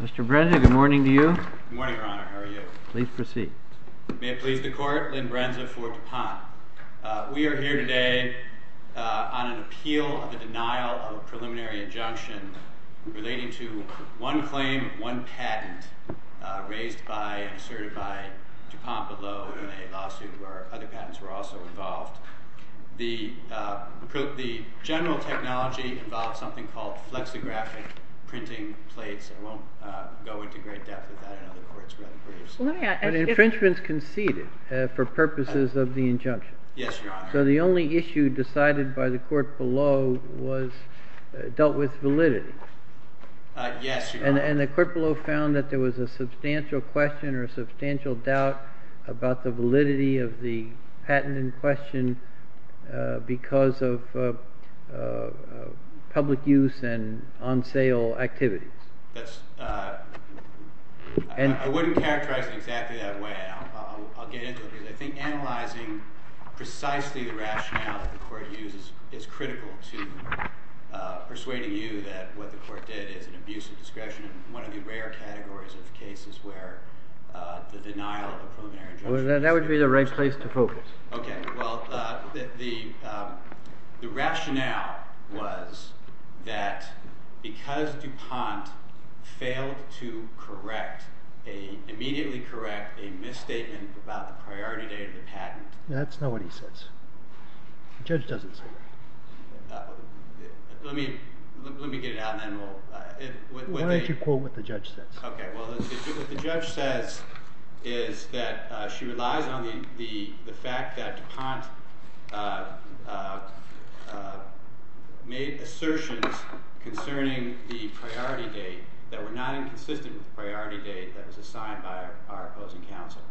Mr. Brenza, good morning to you. Good morning, Your Honor. How are you? Please proceed. May it please the Court, Lynn Brenza for Dupont. We are here today on an appeal of the denial of a preliminary injunction relating to one claim, one patent, raised by and asserted by Dupont below in a lawsuit where other patents were also involved. The general technology involved something called flexographic printing plates. I won't go into great depth with that. I know the Court's rather brief. But infringements conceded for purposes of the injunction. Yes, Your Honor. So the only issue decided by the Court below was dealt with validity. Yes, Your Honor. And the Court below found that there was a substantial question or a substantial doubt about the validity of the patent in question because of public use and on-sale activities. I wouldn't characterize it exactly that way. I'll get into it. I think analyzing precisely the rationale that the Court uses is critical to persuading you that what the Court did is an abuse of discretion. One of the rare categories of cases where the denial of a preliminary injunction... That would be the right place to focus. OK. Well, the rationale was that because Dupont failed to immediately correct a misstatement about the priority date of the patent... That's not what he says. The judge doesn't say that. Let me get it out, and then we'll... Why don't you quote what the judge says. OK. Well, what the judge says is that she relies on the fact that Dupont made assertions concerning the priority date that were not inconsistent with the priority date that was assigned by our opposing counsel.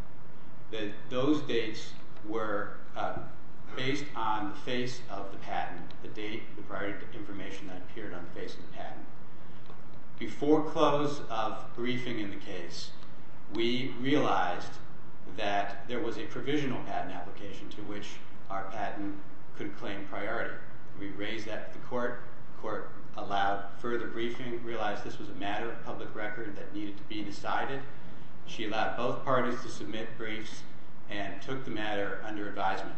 That those dates were based on the face of the patent, the date, the priority information that appeared on the face of the patent. Before close of briefing in the case, we realized that there was a provisional patent application to which our patent could claim priority. We raised that to the Court. The Court allowed further briefing, realized this was a matter of public record that needed to be decided. She allowed both parties to submit briefs and took the matter under advisement.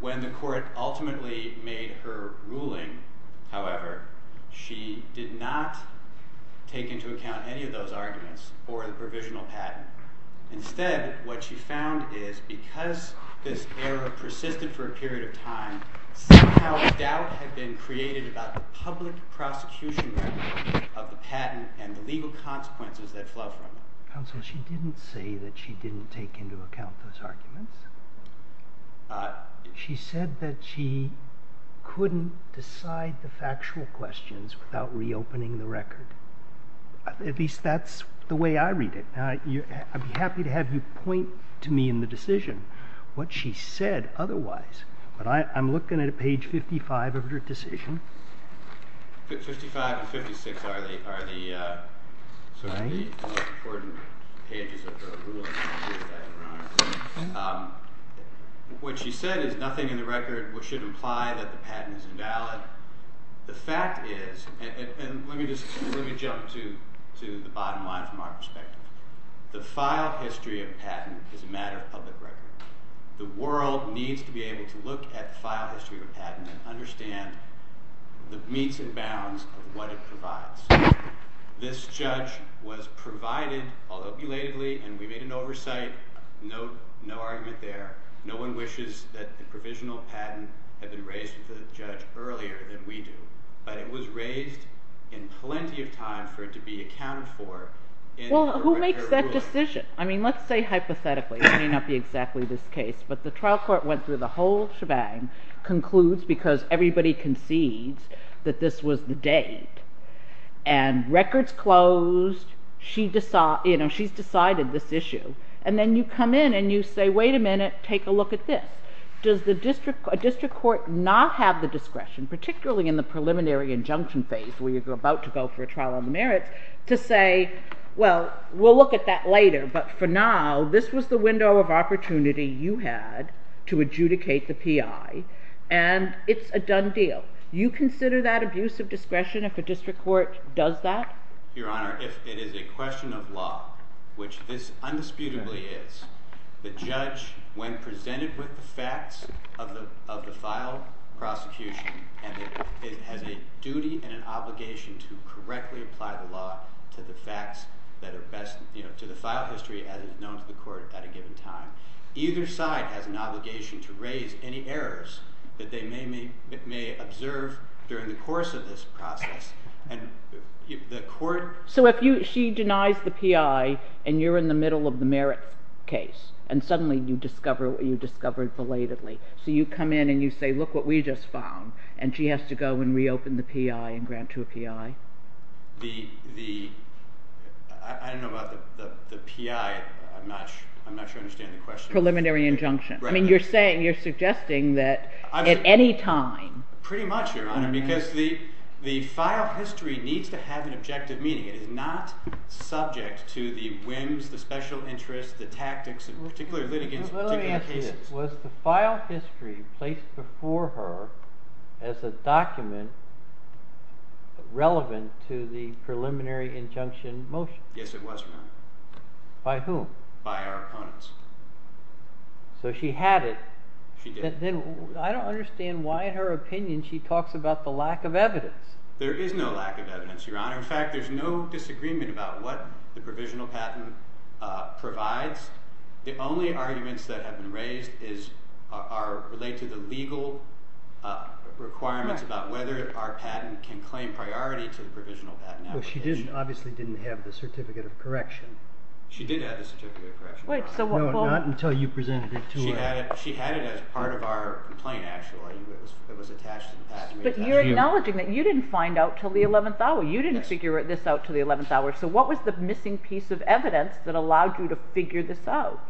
When the Court ultimately made her ruling, however, she did not take into account any of those arguments or the provisional patent. Instead, what she found is because this error persisted for a period of time, somehow a doubt had been created about the public prosecution record of the patent and the legal consequences that flowed from it. Counsel, she didn't say that she didn't take into account those arguments. She said that she couldn't decide the factual questions without reopening the record. At least that's the way I read it. I'd be happy to have you point to me in the decision what she said otherwise, but I'm looking at page 55 of her decision. 55 and 56 are the most important pages of her ruling. What she said is nothing in the record should imply that the patent is invalid. The fact is, and let me jump to the bottom line from our perspective, the file history of a patent is a matter of public record. The world needs to be able to look at the file history of a patent and understand the meats and bounds of what it provides. This judge was provided, although belatedly, and we made an oversight, no argument there, no one wishes that the provisional patent had been raised with the judge earlier than we do, but it was raised in plenty of time for it to be accounted for. Well, who makes that decision? I mean, let's say hypothetically, it may not be exactly this case, but the trial court went through the whole shebang, concludes because everybody concedes that this was the date, and records closed, she's decided this issue, and then you come in and you say, wait a minute, take a look at this. Does a district court not have the discretion, particularly in the preliminary injunction phase where you're about to go for a trial on the merits, to say, well, we'll look at that later, but for now, this was the window of opportunity you had to adjudicate the PI, and it's a done deal. You consider that abuse of discretion if a district court does that? Your Honor, if it is a question of law, which this undisputably is, the judge, when presented with the facts of the filed prosecution, has a duty and an obligation to correctly apply the law to the facts that are best, to the file history as it is known to the court at a given time. Either side has an obligation to raise any errors that they may observe during the course of this process. And the court... So if she denies the PI and you're in the middle of the merit case, and suddenly you discover it belatedly, so you come in and you say, look what we just found, and she has to go and reopen the PI and grant to a PI? The... I don't know about the PI. I'm not sure I understand the question. Preliminary injunction. I mean, you're saying, you're suggesting that at any time... Pretty much, Your Honor, because the file history needs to have an objective meaning. It is not subject to the whims, the special interests, the tactics of particular litigants in particular cases. Well, let me ask you this. Was the file history placed before her as a document relevant to the preliminary injunction motion? Yes, it was, Your Honor. By whom? By our opponents. So she had it. She did. Then I don't understand why in her opinion she talks about the lack of evidence. There is no lack of evidence, Your Honor. In fact, there's no disagreement about what the provisional patent provides. The only arguments that have been raised relate to the legal requirements about whether our patent can claim priority to the provisional patent application. Well, she obviously didn't have the certificate of correction. She did have the certificate of correction. No, not until you presented it to her. She had it as part of our complaint, actually. It was attached to the patent. But you're acknowledging that you didn't find out until the 11th hour. You didn't figure this out until the 11th hour. So what was the missing piece of evidence that allowed you to figure this out?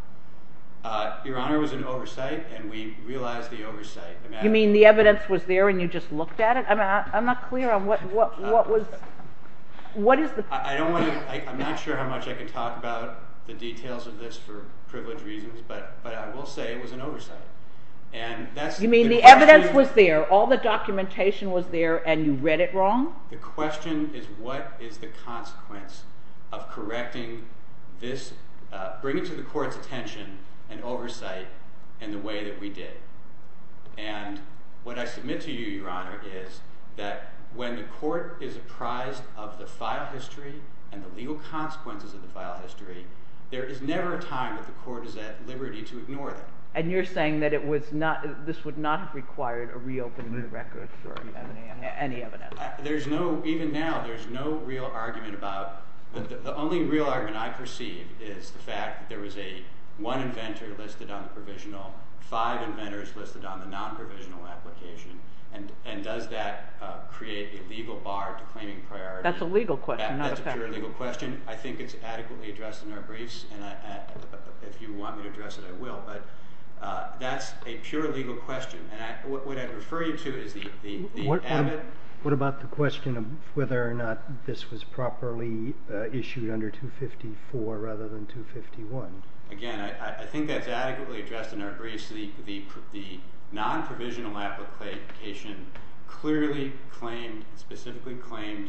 Your Honor, it was an oversight, and we realized the oversight. You mean the evidence was there and you just looked at it? I'm not clear on what was... I'm not sure how much I can talk about the details of this for privilege reasons, but I will say it was an oversight. You mean the evidence was there, all the documentation was there, and you read it wrong? The question is what is the consequence of correcting this, bringing to the court's attention an oversight in the way that we did. And what I submit to you, Your Honor, is that when the court is apprised of the file history and the legal consequences of the file history, there is never a time that the court is at liberty to ignore them. And you're saying that this would not have required a reopening of the record for any evidence? Even now, there's no real argument about... The only real argument I perceive is the fact that there was one inventor listed on the provisional, five inventors listed on the non-provisional application, and does that create a legal bar to claiming priority? That's a legal question, not a fact. I think it's adequately addressed in our briefs, and if you want me to address it, I will, but that's a pure legal question. What I'd refer you to is the... What about the question of whether or not this was properly issued under 254 rather than 251? Again, I think that's adequately addressed in our briefs. The non-provisional application clearly claimed, specifically claimed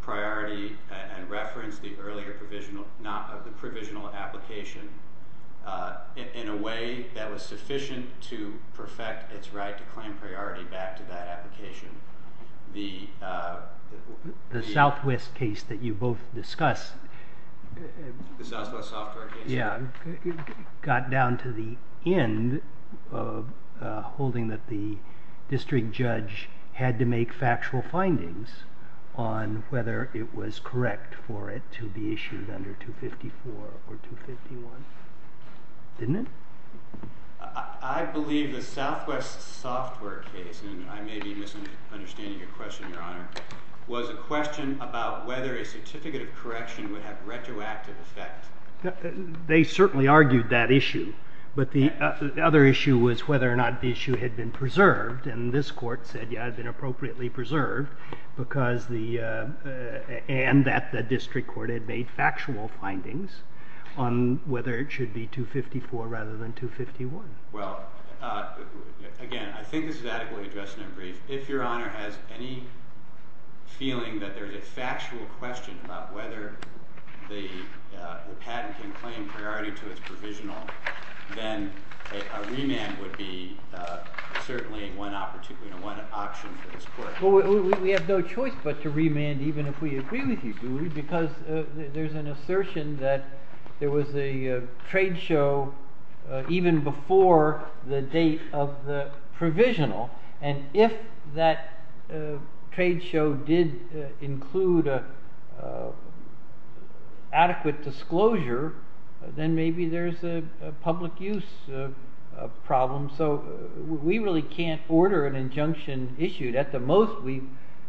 priority and referenced the provisional application in a way that was sufficient to perfect its right to claim priority back to that application. The... The Southwest case that you both discuss... The Southwest software case? Yeah, got down to the end of holding that the district judge had to make factual findings on whether it was correct for it to be issued under 254 or 251. Didn't it? I believe the Southwest software case, and I may be misunderstanding your question, Your Honor, was a question about whether a certificate of correction would have retroactive effect. They certainly argued that issue, but the other issue was whether or not the issue had been preserved, and this court said, yeah, it had been appropriately preserved because the... and that the district court had made factual findings on whether it should be 254 rather than 251. Well, again, I think this is adequately addressed in our brief. If Your Honor has any feeling that there's a factual question about whether the patent can claim priority to its provisional, then a remand would be certainly one option for this court. We have no choice but to remand even if we agree with you, because there's an assertion that there was a trade show even before the date of the provisional, and if that trade show did include adequate disclosure, then maybe there's a public use problem, so we really can't order an injunction issued. At the most, we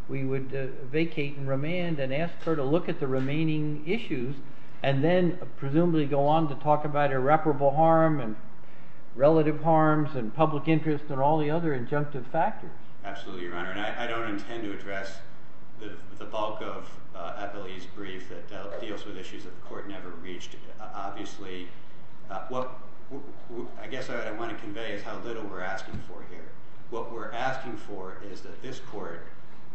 would vacate and remand and ask her to look at the remaining issues and then presumably go on to talk about irreparable harm and relative harms and public interest and all the other injunctive factors. Absolutely, Your Honor, and I don't intend to address the bulk of Appellee's brief that deals with issues that the court never reached. Obviously, what I guess I want to convey is how little we're asking for here. What we're asking for is that this court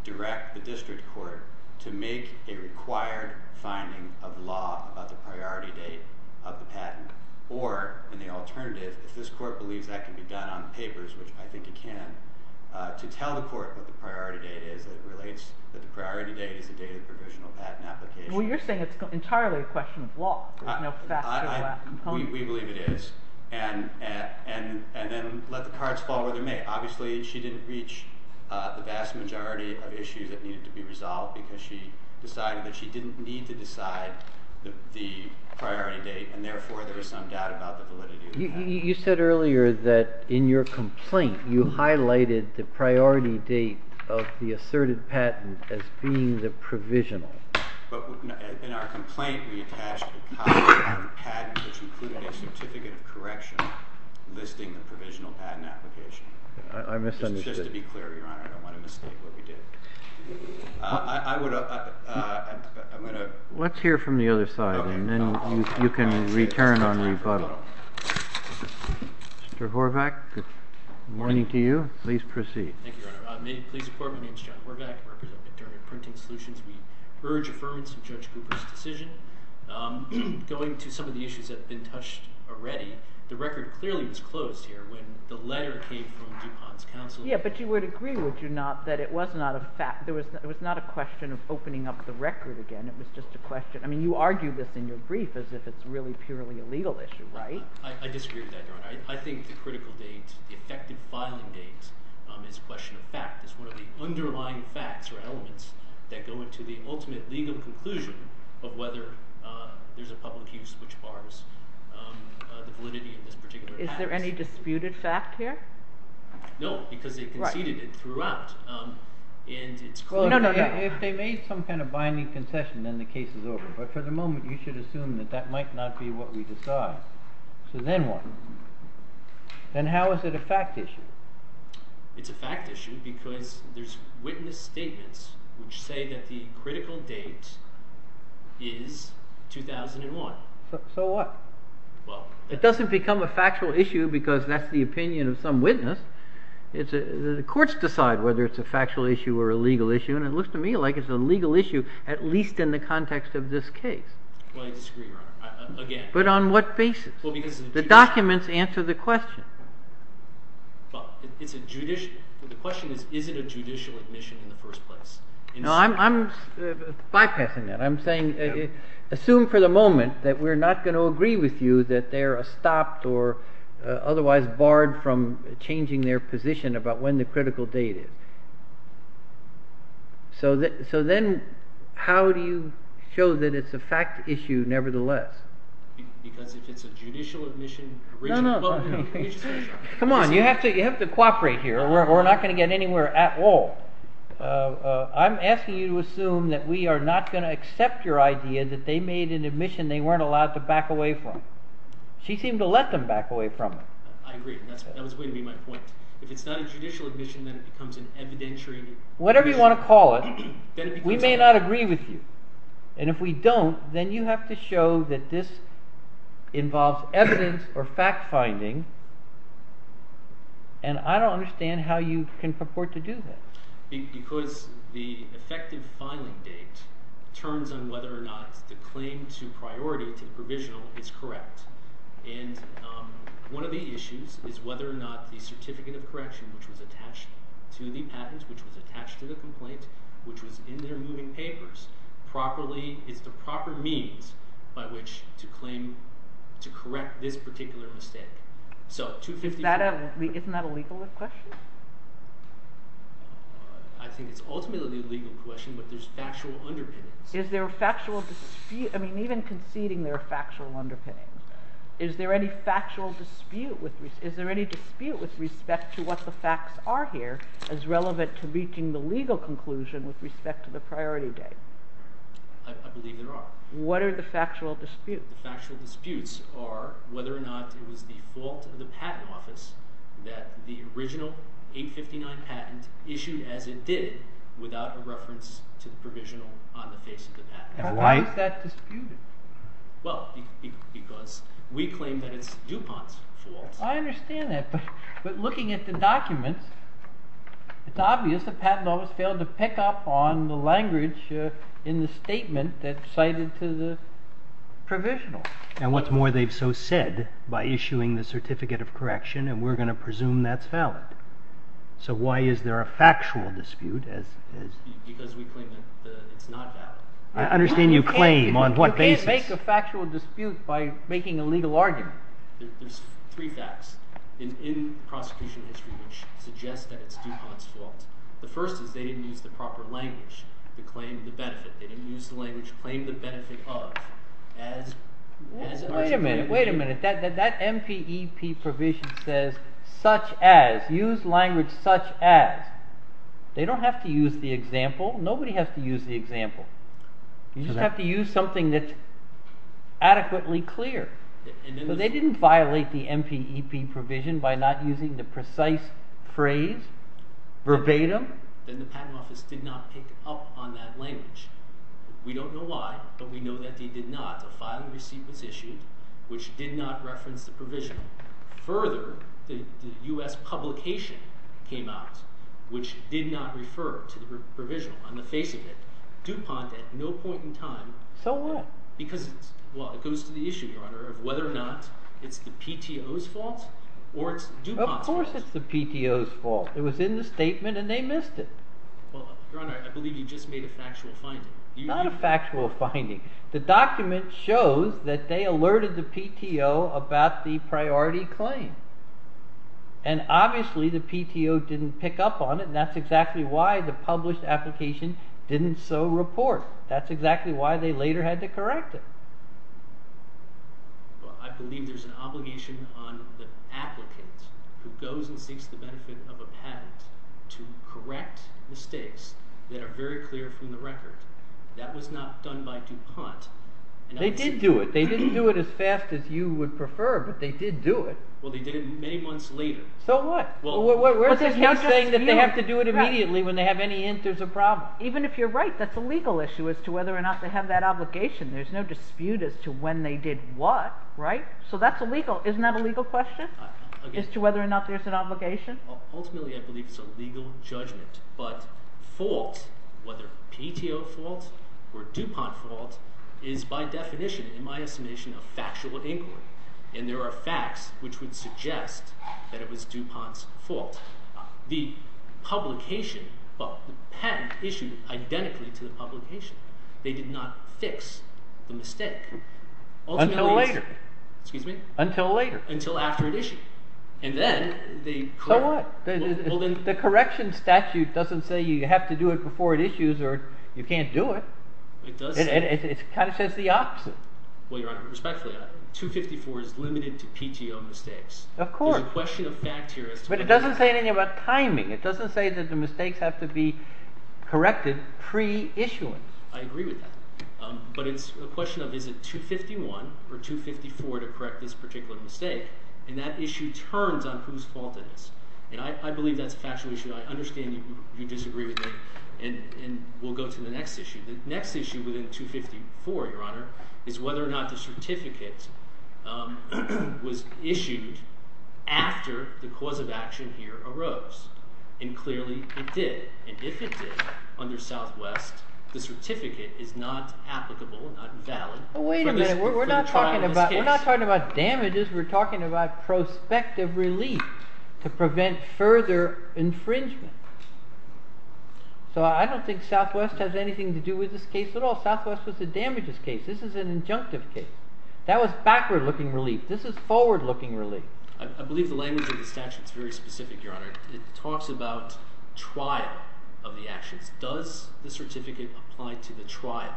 direct the district court to make a required finding of law about the priority date of the patent, or, in the alternative, if this court believes that can be done on papers, which I think it can, to tell the court what the priority date is that relates that the priority date is the date of the provisional patent application. Well, you're saying it's entirely a question of law. We believe it is, and then let the cards fall where they may. Obviously, she didn't reach the vast majority of issues that needed to be resolved because she decided that she didn't need to decide the priority date, and therefore there is some doubt about the validity of the patent. You said earlier that in your complaint you highlighted the priority date of the asserted patent as being the provisional. But in our complaint, we attached a copy of the patent, which included a certificate of correction, listing the provisional patent application. I misunderstood. Just to be clear, Your Honor, I don't want to mistake what we did. Let's hear from the other side, and then you can return on rebuttal. Mr. Horvath, good morning to you. Please proceed. Thank you, Your Honor. May it please the court, my name is John Horvath, I'm a representative of Printing Solutions. We urge affirmance of Judge Cooper's decision. Going to some of the issues that have been touched already, the record clearly was closed here when the letter came from DuPont's counsel. Yeah, but you would agree, would you not, that it was not a question of opening up the record again, it was just a question, I mean, you argued this in your brief as if it's really purely a legal issue, right? I disagree with that, Your Honor. I think the critical date, the effective filing date, is a question of fact, is one of the underlying facts or elements that go into the ultimate legal conclusion of whether there's a public use which bars the validity of this particular act. Is there any disputed fact here? No, because they conceded it throughout. No, no, no. If they made some kind of binding concession, then the case is over, but for the moment you should assume that that might not be what we decide. So then what? Then how is it a fact issue? It's a fact issue because there's witness statements which say that the critical date is 2001. So what? It doesn't become a factual issue because that's the opinion of some witness. The courts decide whether it's a factual issue or a legal issue, and it looks to me like it's a legal issue, at least in the context of this case. Well, I disagree, Your Honor, again. But on what basis? The documents answer the question. The question is, is it a judicial admission in the first place? No, I'm bypassing that. I'm saying assume for the moment that we're not going to agree with you that they're stopped or otherwise barred from changing their position about when the critical date is. So then how do you show that it's a fact issue nevertheless? Because if it's a judicial admission... No, no. Come on, you have to cooperate here. We're not going to get anywhere at all. I'm asking you to assume that we are not going to accept your idea that they made an admission they weren't allowed to back away from. She seemed to let them back away from it. I agree. That was way to be my point. If it's not a judicial admission, then it becomes an evidentiary... Whatever you want to call it, we may not agree with you. And if we don't, then you have to show that this involves evidence or fact-finding. And I don't understand how you can purport to do that. Because the effective filing date turns on whether or not the claim to priority, to the provisional, is correct. And one of the issues is whether or not the certificate of correction, which was attached to the patent, which was attached to the complaint, which was in their moving papers, is the proper means by which to claim to correct this particular mistake. Isn't that a legal question? I think it's ultimately a legal question, but there's factual underpinnings. Is there a factual dispute... I mean, even conceding there are factual underpinnings. Is there any factual dispute with... Is there any dispute with respect to what the facts are here as relevant to reaching the legal conclusion with respect to the priority date? I believe there are. What are the factual disputes? The factual disputes are whether or not it was the fault of the Patent Office that the original 859 patent issued as it did without a reference to the provisional on the face of the patent. How is that disputed? Well, because we claim that it's DuPont's fault. I understand that, but looking at the documents, it's obvious the Patent Office failed to pick up on the language in the statement that's cited to the provisional. And what's more, they've so said by issuing the Certificate of Correction and we're going to presume that's valid. So why is there a factual dispute? Because we claim that it's not valid. I understand you claim on what basis... You can't make a factual dispute by making a legal argument. There's three facts in prosecution history which suggest that it's DuPont's fault. The first is they didn't use the proper language to claim the benefit. They didn't use the language to claim the benefit of. Wait a minute, wait a minute. That MPEP provision says such as, use language such as. They don't have to use the example. Nobody has to use the example. You just have to use something that's adequately clear. So they didn't violate the MPEP provision by not using the precise phrase, verbatim. Then the Patent Office did not pick up on that language. We don't know why, but we know that they did not. The filing receipt was issued which did not reference the provision. Further, the U.S. publication came out which did not refer to the provision on the face of it. DuPont at no point in time... So what? It goes to the issue, Your Honor, of whether or not it's the PTO's fault or it's DuPont's fault. Of course it's the PTO's fault. It was in the statement and they missed it. Your Honor, I believe you just made a factual finding. Not a factual finding. The document shows that they alerted the PTO about the priority claim. And obviously the PTO didn't pick up on it and that's exactly why the published application didn't so report. That's exactly why they later had to correct it. I believe there's an obligation on the applicant who goes and seeks the benefit of a patent to correct mistakes that are very clear from the record. That was not done by DuPont. They did do it. They didn't do it as fast as you would prefer but they did do it. Well, they did it many months later. So what? There's no saying that they have to do it immediately when they have any answers or problems. Even if you're right, that's a legal issue as to whether or not they have that obligation. There's no dispute as to when they did what. Right? So that's illegal. Isn't that a legal question? As to whether or not there's an obligation? Ultimately, I believe it's a legal judgment but fault, whether PTO fault or DuPont fault is by definition, in my estimation a factual inquiry. And there are facts which would suggest that it was DuPont's fault. The publication of the patent issued identically to the publication. They did not fix the mistake. Until later. Excuse me? Until later. Until after it issued. So what? The correction statute doesn't say you have to do it before it issues or you can't do it. It kind of says the opposite. Respectfully, 254 is limited to PTO mistakes. Of course. But it doesn't say anything about timing. It doesn't say that the mistakes have to be corrected pre-issuance. I agree with that. But it's a question of is it 251 or 254 to correct this particular mistake. And that issue turns on whose fault it is. And I believe that's a factual issue. I understand you disagree with me. And we'll go to the next issue. The next issue within 254, Your Honor, is whether or not the certificate was issued after the cause of action here arose. And clearly it did. And if it did, under Southwest, the certificate is not applicable, not valid. Wait a minute. We're not talking about damages. We're talking about prospective relief to prevent further infringement. So I don't think Southwest has anything to do with this case at all. Southwest was the damages case. This is an injunctive case. looking relief. I believe the language of the statute is very specific, Your Honor. It talks about trial of the actions. Does the certificate apply to the trial?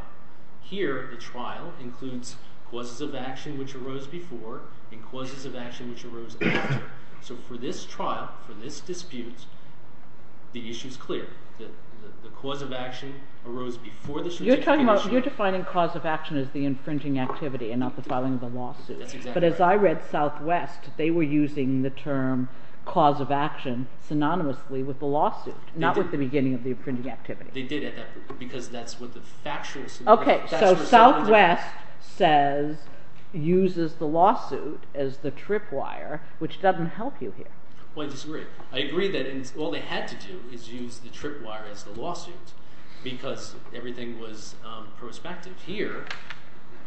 Here, the trial includes causes of action which arose before and causes of action which arose after. So for this trial, for this dispute, the issue is clear. The cause of action arose before the certificate was issued. You're defining cause of action as the infringing activity and not the filing of the lawsuit. That's exactly right. But as I read Southwest, they were using the term cause of action synonymously with the lawsuit, not with the beginning of the infringing activity. They did at that point because that's what the factual synonym is. Okay, so Southwest says, uses the lawsuit as the tripwire which doesn't help you here. I disagree. I agree that all they had to do is use the tripwire as the lawsuit because everything was prospective. Here,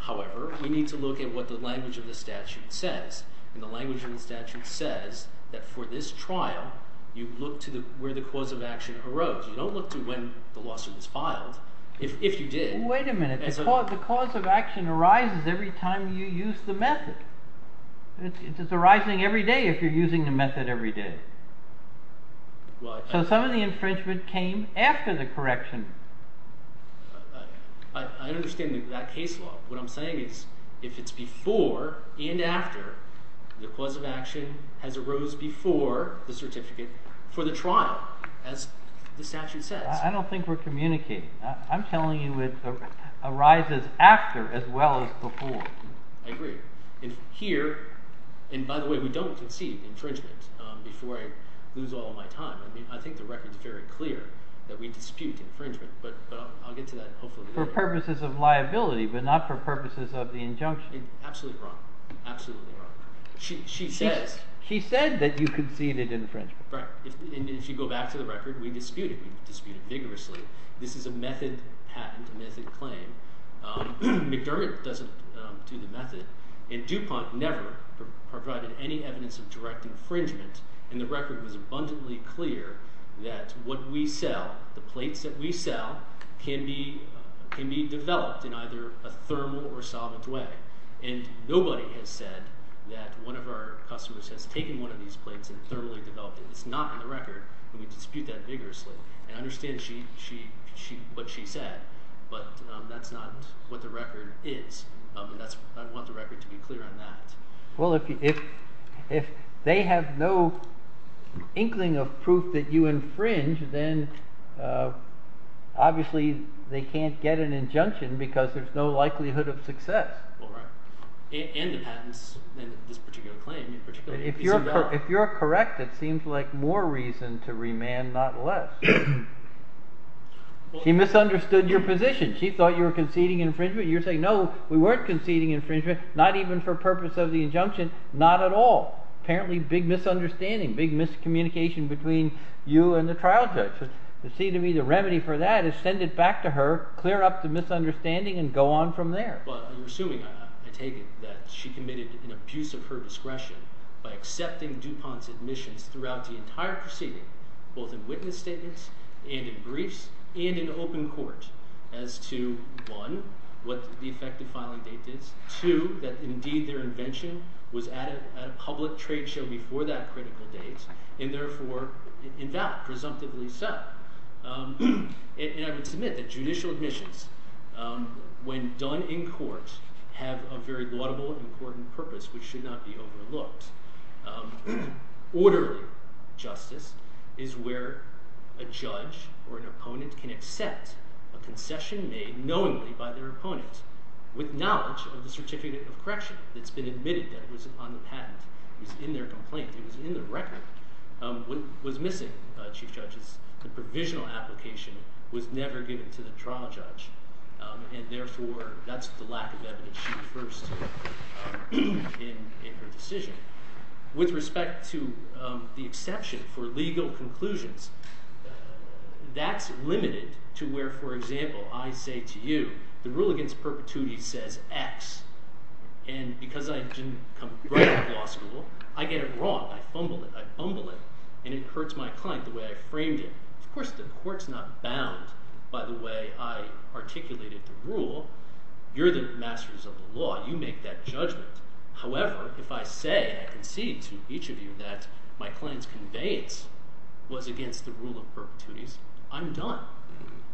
however, we need to look at what the language of the statute says. And the language of the statute says that for this trial, you look to where the cause of action arose. You don't look to when the lawsuit was filed, if you did. Wait a minute. The cause of action arises every time you use the method. It's arising every day if you're using the method every day. So some of the infringement came after the correction. I understand that case law. What I'm saying is if it's before and after the cause of action has arose before the certificate for the trial, as the statute says. I don't think we're communicating. I'm telling you it arises after as well as before. I agree. Here, and by the way, we don't concede infringement before I lose all my time. I mean, I think the record's very clear that we dispute infringement, but I'll get to that hopefully later. For purposes of liability, but not for purposes of the injunction. Absolutely wrong. She says that you conceded infringement. If you go back to the record, we disputed. We disputed vigorously. This is a method patent, a method claim. McDermott doesn't do the method, and DuPont never provided any evidence of direct infringement, and the record was abundantly clear that what we sell, the plates that we sell, can be developed in either a thermal or solvent way, and nobody has said that one of our customers has taken one of these plates and developed it. It's not in the record, and we dispute that vigorously, and I understand what she said, but that's not what the record is. I want the record to be clear on that. Well, if they have no inkling of proof that you infringe, then obviously they can't get an injunction because there's no likelihood of success. And the patents in this particular claim. If you're correct, it seems like more reason to remand, not less. She misunderstood your position. She thought you were conceding infringement. You're saying no, we weren't conceding infringement, not even for purpose of the injunction, not at all. Apparently, big misunderstanding, big miscommunication between you and the trial judge. It seems to me the remedy for that is send it back to her, clear up the misunderstanding, and go on from there. You're assuming, I take it, that she committed an abuse of her discretion by accepting DuPont's admissions throughout the entire proceeding, both in witness statements and in briefs and in open court as to, one, what the effective filing date is, two, that indeed their invention was at a public trade show before that critical date, and therefore invalid, presumptively so. And I would submit that judicial admissions, when done in court, have a very laudable and important purpose which should not be overlooked. Orderly justice is where a judge or an opponent can accept a concession made knowingly by their opponent with knowledge of the certificate of correction that's been admitted that was on the patent, was in their complaint, was in the record, was missing, Chief Judges. The provisional application was never given to the trial judge and therefore that's the lack of evidence she refers to in her decision. With respect to the exception for legal conclusions, that's limited to where, for example, I say to you, the rule against perpetuity says X and because I didn't come out of law school, I get it wrong, I fumble it, I fumble it, and it hurts my client the way I framed it. Of course the court's not bound by the way I articulated the rule. You're the masters of the law. You make that judgment. However, if I say and I concede to each of you that my client's conveyance was against the rule of perpetuities, I'm done.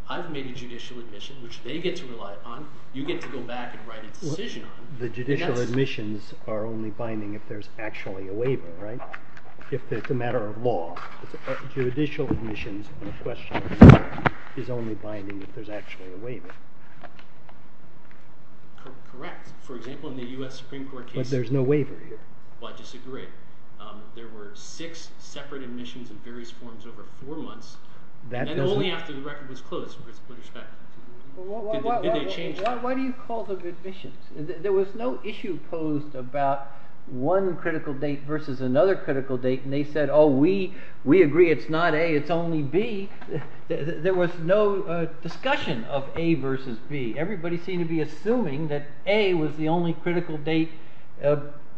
I've made a judicial admission which they get to rely upon. You get to go back and write a decision on it. The judicial admissions are only binding if there's actually a waiver, right? If it's a matter of law. Judicial admissions in question is only binding if there's actually a waiver. Correct. For example, in the U.S. Supreme Court case... But there's no waiver here. Well, I disagree. There were six separate admissions in various forms over four months and only after the record was closed. Did they change that? Why do you call them admissions? There was no issue posed about one critical date versus another critical date and they said, we agree it's not A, it's only B. There was no discussion of A versus B. Everybody seemed to be assuming that A was the only critical date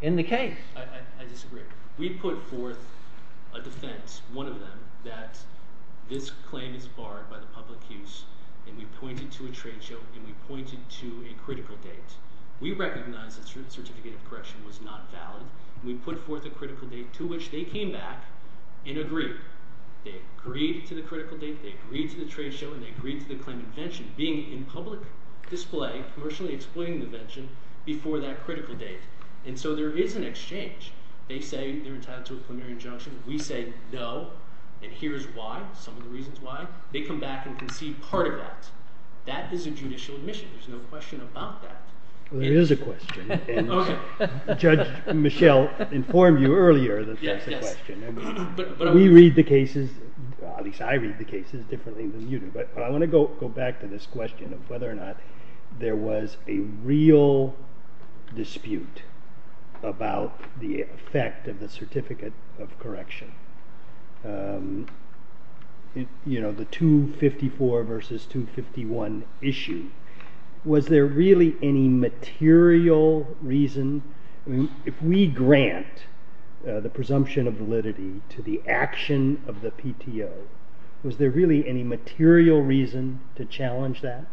in the case. I disagree. We put forth a defense, one of them, that this claim is barred by the public use and we pointed to a trade show and we pointed to a critical date. We recognized that certificate of correction was not valid. We put forth a critical date to which they came back and agreed. They agreed to the critical date, they agreed to the trade show, and they agreed to the claim of invention being in public display, commercially exploiting the invention, before that critical date. And so there is an exchange. They say they're entitled to a preliminary injunction. We say no. And here's why, some of the reasons why. They come back and concede part of that. That is a judicial admission. There's no question about that. There is a question. Judge Michelle informed you earlier that there's a question. We read the cases, at least I read the cases differently than you do, but I want to go back to this question of whether or not there was a real dispute about the effect of the certificate of correction. The 254 versus 251 issue. Was there really any material reason, if we grant the presumption of validity to the action of the PTO, was there really any material reason to challenge that?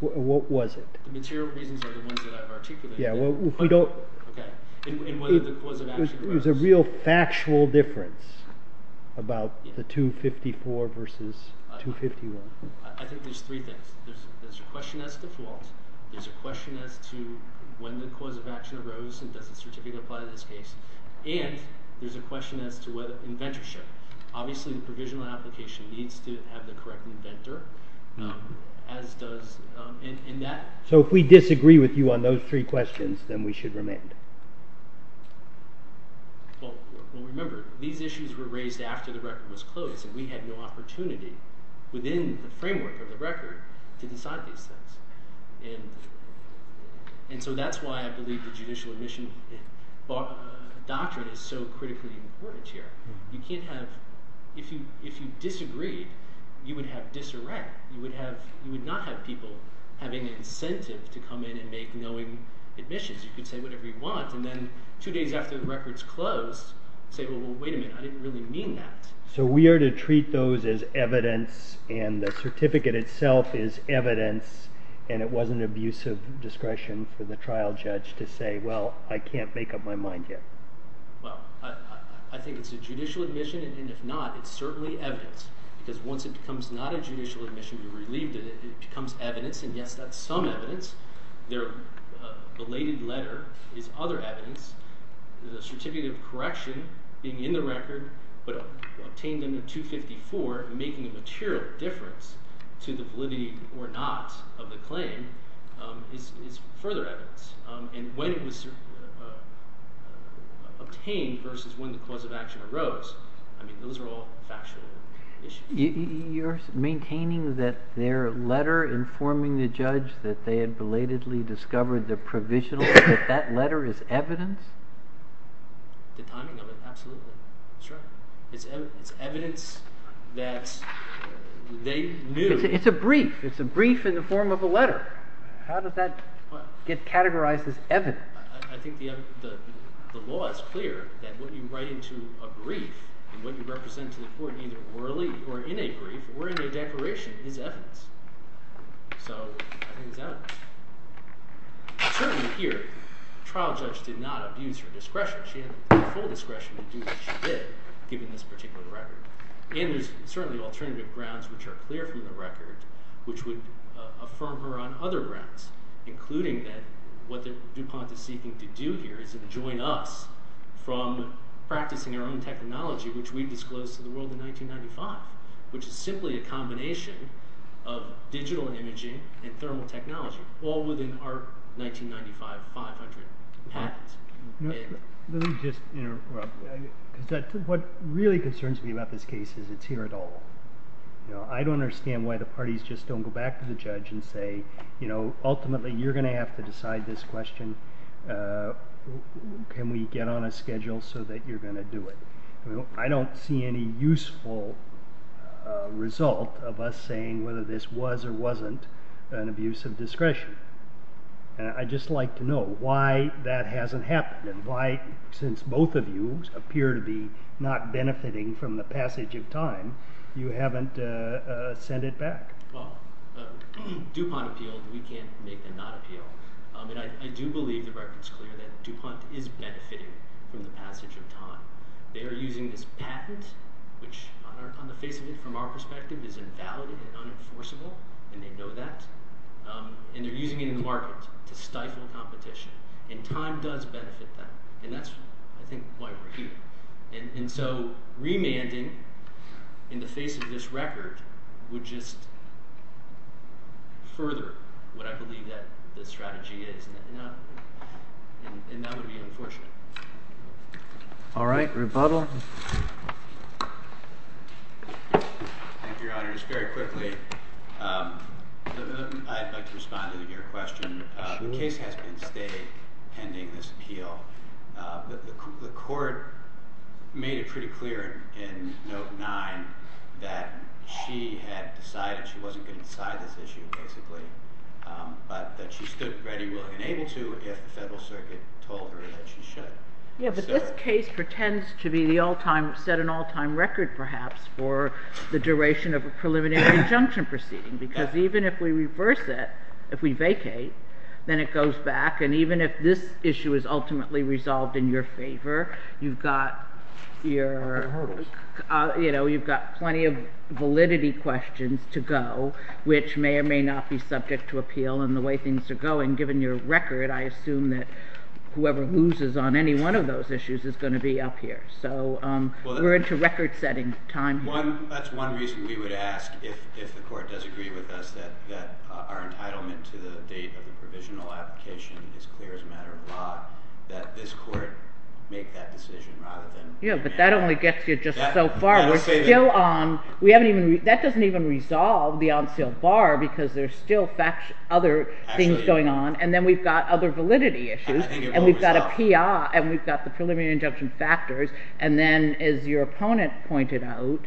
What was it? The material reasons are the ones that I've articulated. If we don't... It was a real factual difference about the 254 versus 251. I think there's three things. There's a question as to fault. There's a question as to when the cause of action arose and does the certificate apply in this case. And there's a question as to whether inventorship. Obviously the provisional application needs to have the correct inventor as does... So if we disagree with you on those three questions, then we should remain. Remember, these issues were raised after the record was closed and we had no opportunity within the framework of the record to decide these things. And so that's why I believe the judicial admission doctrine is so critically important here. You can't have... If you disagreed, you would have disarray. You would not have people having an incentive to come in and make knowing admissions. You could say whatever you want and then two days after the record's closed, say, wait a minute, I didn't really mean that. So we are to treat those as evidence and the certificate itself is evidence and it wasn't abusive discretion for the trial judge to say, well, I can't make up my mind yet. I think it's a judicial admission and if not, it's certainly evidence because once it becomes not a judicial admission, you're relieved that it becomes evidence and yes, that's some evidence. Their belated letter is other evidence. The certificate of correction being in the record but obtained under 254 and making a material difference to the validity or not of the claim is further evidence. And when it was obtained versus when the cause of action arose, those are all factual issues. You're maintaining that their letter informing the judge that they had belatedly discovered the provisional, that that letter is evidence? The timing of it, absolutely. It's evidence that they knew. It's a brief. It's a brief in the form of a letter. How does that get categorized as evidence? I think the law is clear that what you write into a brief and what you represent to the court either orally or in a brief or in a declaration is evidence. So I think it's evidence. Certainly here, the trial judge did not abuse her discretion. She had full discretion to do what she did given this particular record. And there's certainly alternative grounds which are clear from the record which would affirm her on other grounds including that what DuPont is seeking to do here is to join us from practicing our own technology which we disclosed to the world in 1995 which is simply a combination of digital imaging and thermal technology all within our 1995 500 patents. Let me just interrupt. What really concerns me about this case is it's here at all. I don't understand why the parties just don't go back to the judge and say ultimately you're going to have to decide this can we get on a schedule so that you're going to do it. I don't see any useful result of us saying whether this was or wasn't an abuse of discretion. I'd just like to know why that hasn't happened and why since both of you appear to be not benefiting from the passage of time, you haven't sent it back. DuPont appealed. We can't make them not appeal. I do believe the record is clear that DuPont is benefiting from the passage of time. They're using this patent which on the face of it from our perspective is invalid and unenforceable and they know that. They're using it in the market to stifle competition and time does benefit them and that's I think why we're here. Remanding in the face of this record would just further what I believe that the strategy is and that would be unfortunate. Alright, rebuttal. Thank you, Your Honor. Just very quickly I'd like to respond to your question. The case has been pending this appeal. The court made it pretty clear in note 9 that she had decided she wasn't going to get inside this issue basically but that she stood ready willing and able to if the Federal Circuit told her that she should. But this case pretends to be the all time set an all time record perhaps for the duration of a preliminary injunction proceeding because even if we reverse it, if we vacate then it goes back and even if this issue is ultimately resolved in your favor, you've got your you've got plenty of which may or may not be subject to appeal and the way things are going, given your record, I assume that whoever loses on any one of those issues is going to be up here. We're into record setting time here. That's one reason we would ask if the court does agree with us that our entitlement to the date of the provisional application is clear as a matter of law, that this court make that decision rather than Yeah, but that only gets you just so far. We're still on. That doesn't even resolve the on sale bar because there's still other things going on and then we've got other validity issues and we've got a PI and we've got the preliminary injunction factors and then as your opponent pointed out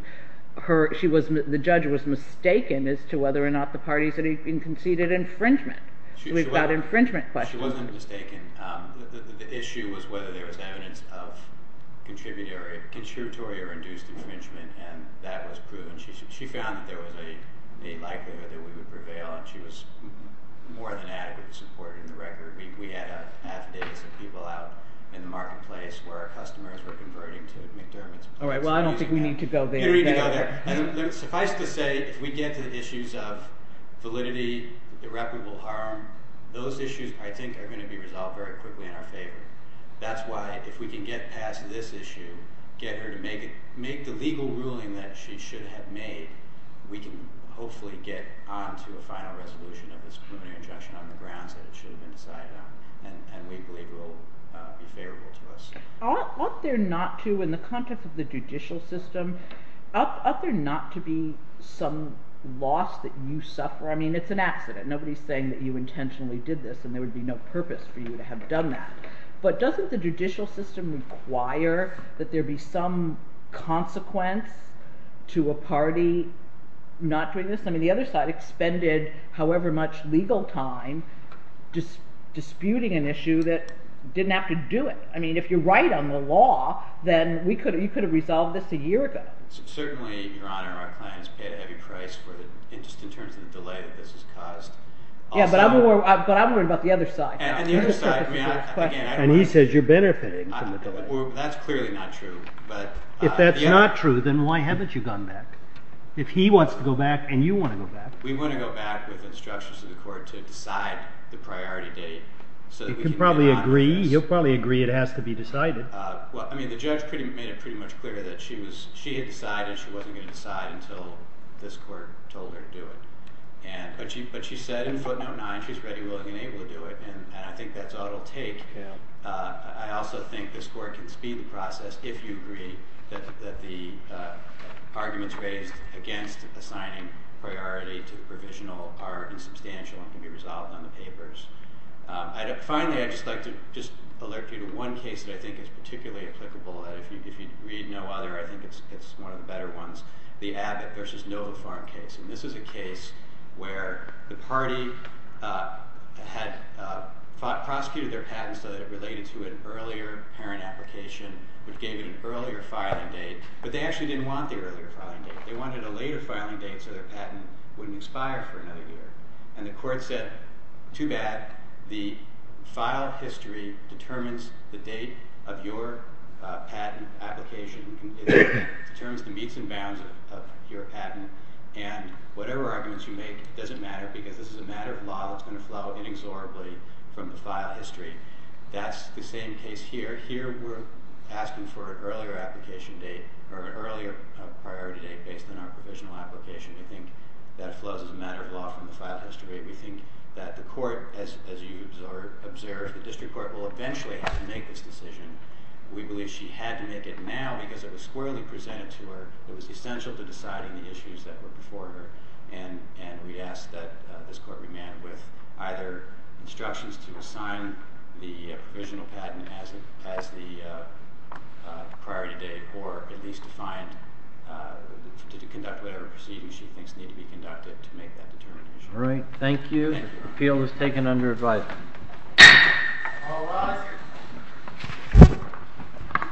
the judge was mistaken as to whether or not the parties had even conceded infringement. We've got infringement questions. She wasn't mistaken. The issue was whether there was evidence of contributory or induced infringement and that was proven. She found that there was a likelihood that we would prevail and she was more than adequately supported in the record. We had a people out in the marketplace where customers were converting to McDermott's. Alright, well I don't think we need to go there. Suffice to say if we get to the issues of validity, irreparable harm those issues I think are going to be resolved very quickly in our favor. That's why if we can get past this issue and get her to make the legal ruling that she should have made we can hopefully get onto a final resolution of this preliminary injunction on the grounds that it should have been decided on and we believe will be favorable to us. Aren't there not to, in the context of the judicial system, aren't there not to be some loss that you suffer? I mean it's an accident. Nobody's saying that you intentionally did this and there would be no purpose for you to have done that. But doesn't the judicial system require that there be some consequence to a party not doing this? I mean the other side expended however much legal time disputing an issue that didn't have to do it. I mean if you're right on the law then you could have resolved this a year ago. Certainly, Your Honor, our clients pay a heavy price just in terms of the delay that this has caused. Yeah, but I'm worried about the other side. And he says you're benefiting from the delay. That's clearly not true. If that's not true, then why haven't you gone back? If he wants to go back and you want to go back. We want to go back with instructions of the court to decide the priority date. You'll probably agree it has to be decided. I mean the judge made it pretty much clear that she had decided she wasn't going to decide until this court told her to do it. But she said in footnote that she wasn't able to do it. And I think that's all it'll take. I also think this court can speed the process if you agree that the arguments raised against assigning priority to the provisional are insubstantial and can be resolved on the papers. Finally, I'd just like to alert you to one case that I think is particularly applicable. If you read no other, I think it's one of the better ones. The Abbott v. Noah Farm case. And this is a case where the party had prosecuted their patent so that it related to an earlier parent application, which gave it an earlier filing date. But they actually didn't want the earlier filing date. They wanted a later filing date so their patent wouldn't expire for another year. And the court said, too bad. The file history determines the date of your patent application. It determines the meets and bounds of your patent. And whatever arguments you make doesn't matter because this is a matter of law that's going to flow inexorably from the file history. That's the same case here. Here we're asking for an earlier application date, or an earlier priority date based on our provisional application. We think that flows as a matter of law from the file history. We think that the court, as you observe, the district court will eventually have to make this decision. We believe she had to make it now because it was squarely presented to her. It was essential to and we ask that this court remand with either instructions to assign the provisional patent as the priority date or at least to find to conduct whatever proceedings she thinks need to be conducted to make that determination. All right. Thank you. Appeal is taken under advisory. All rise.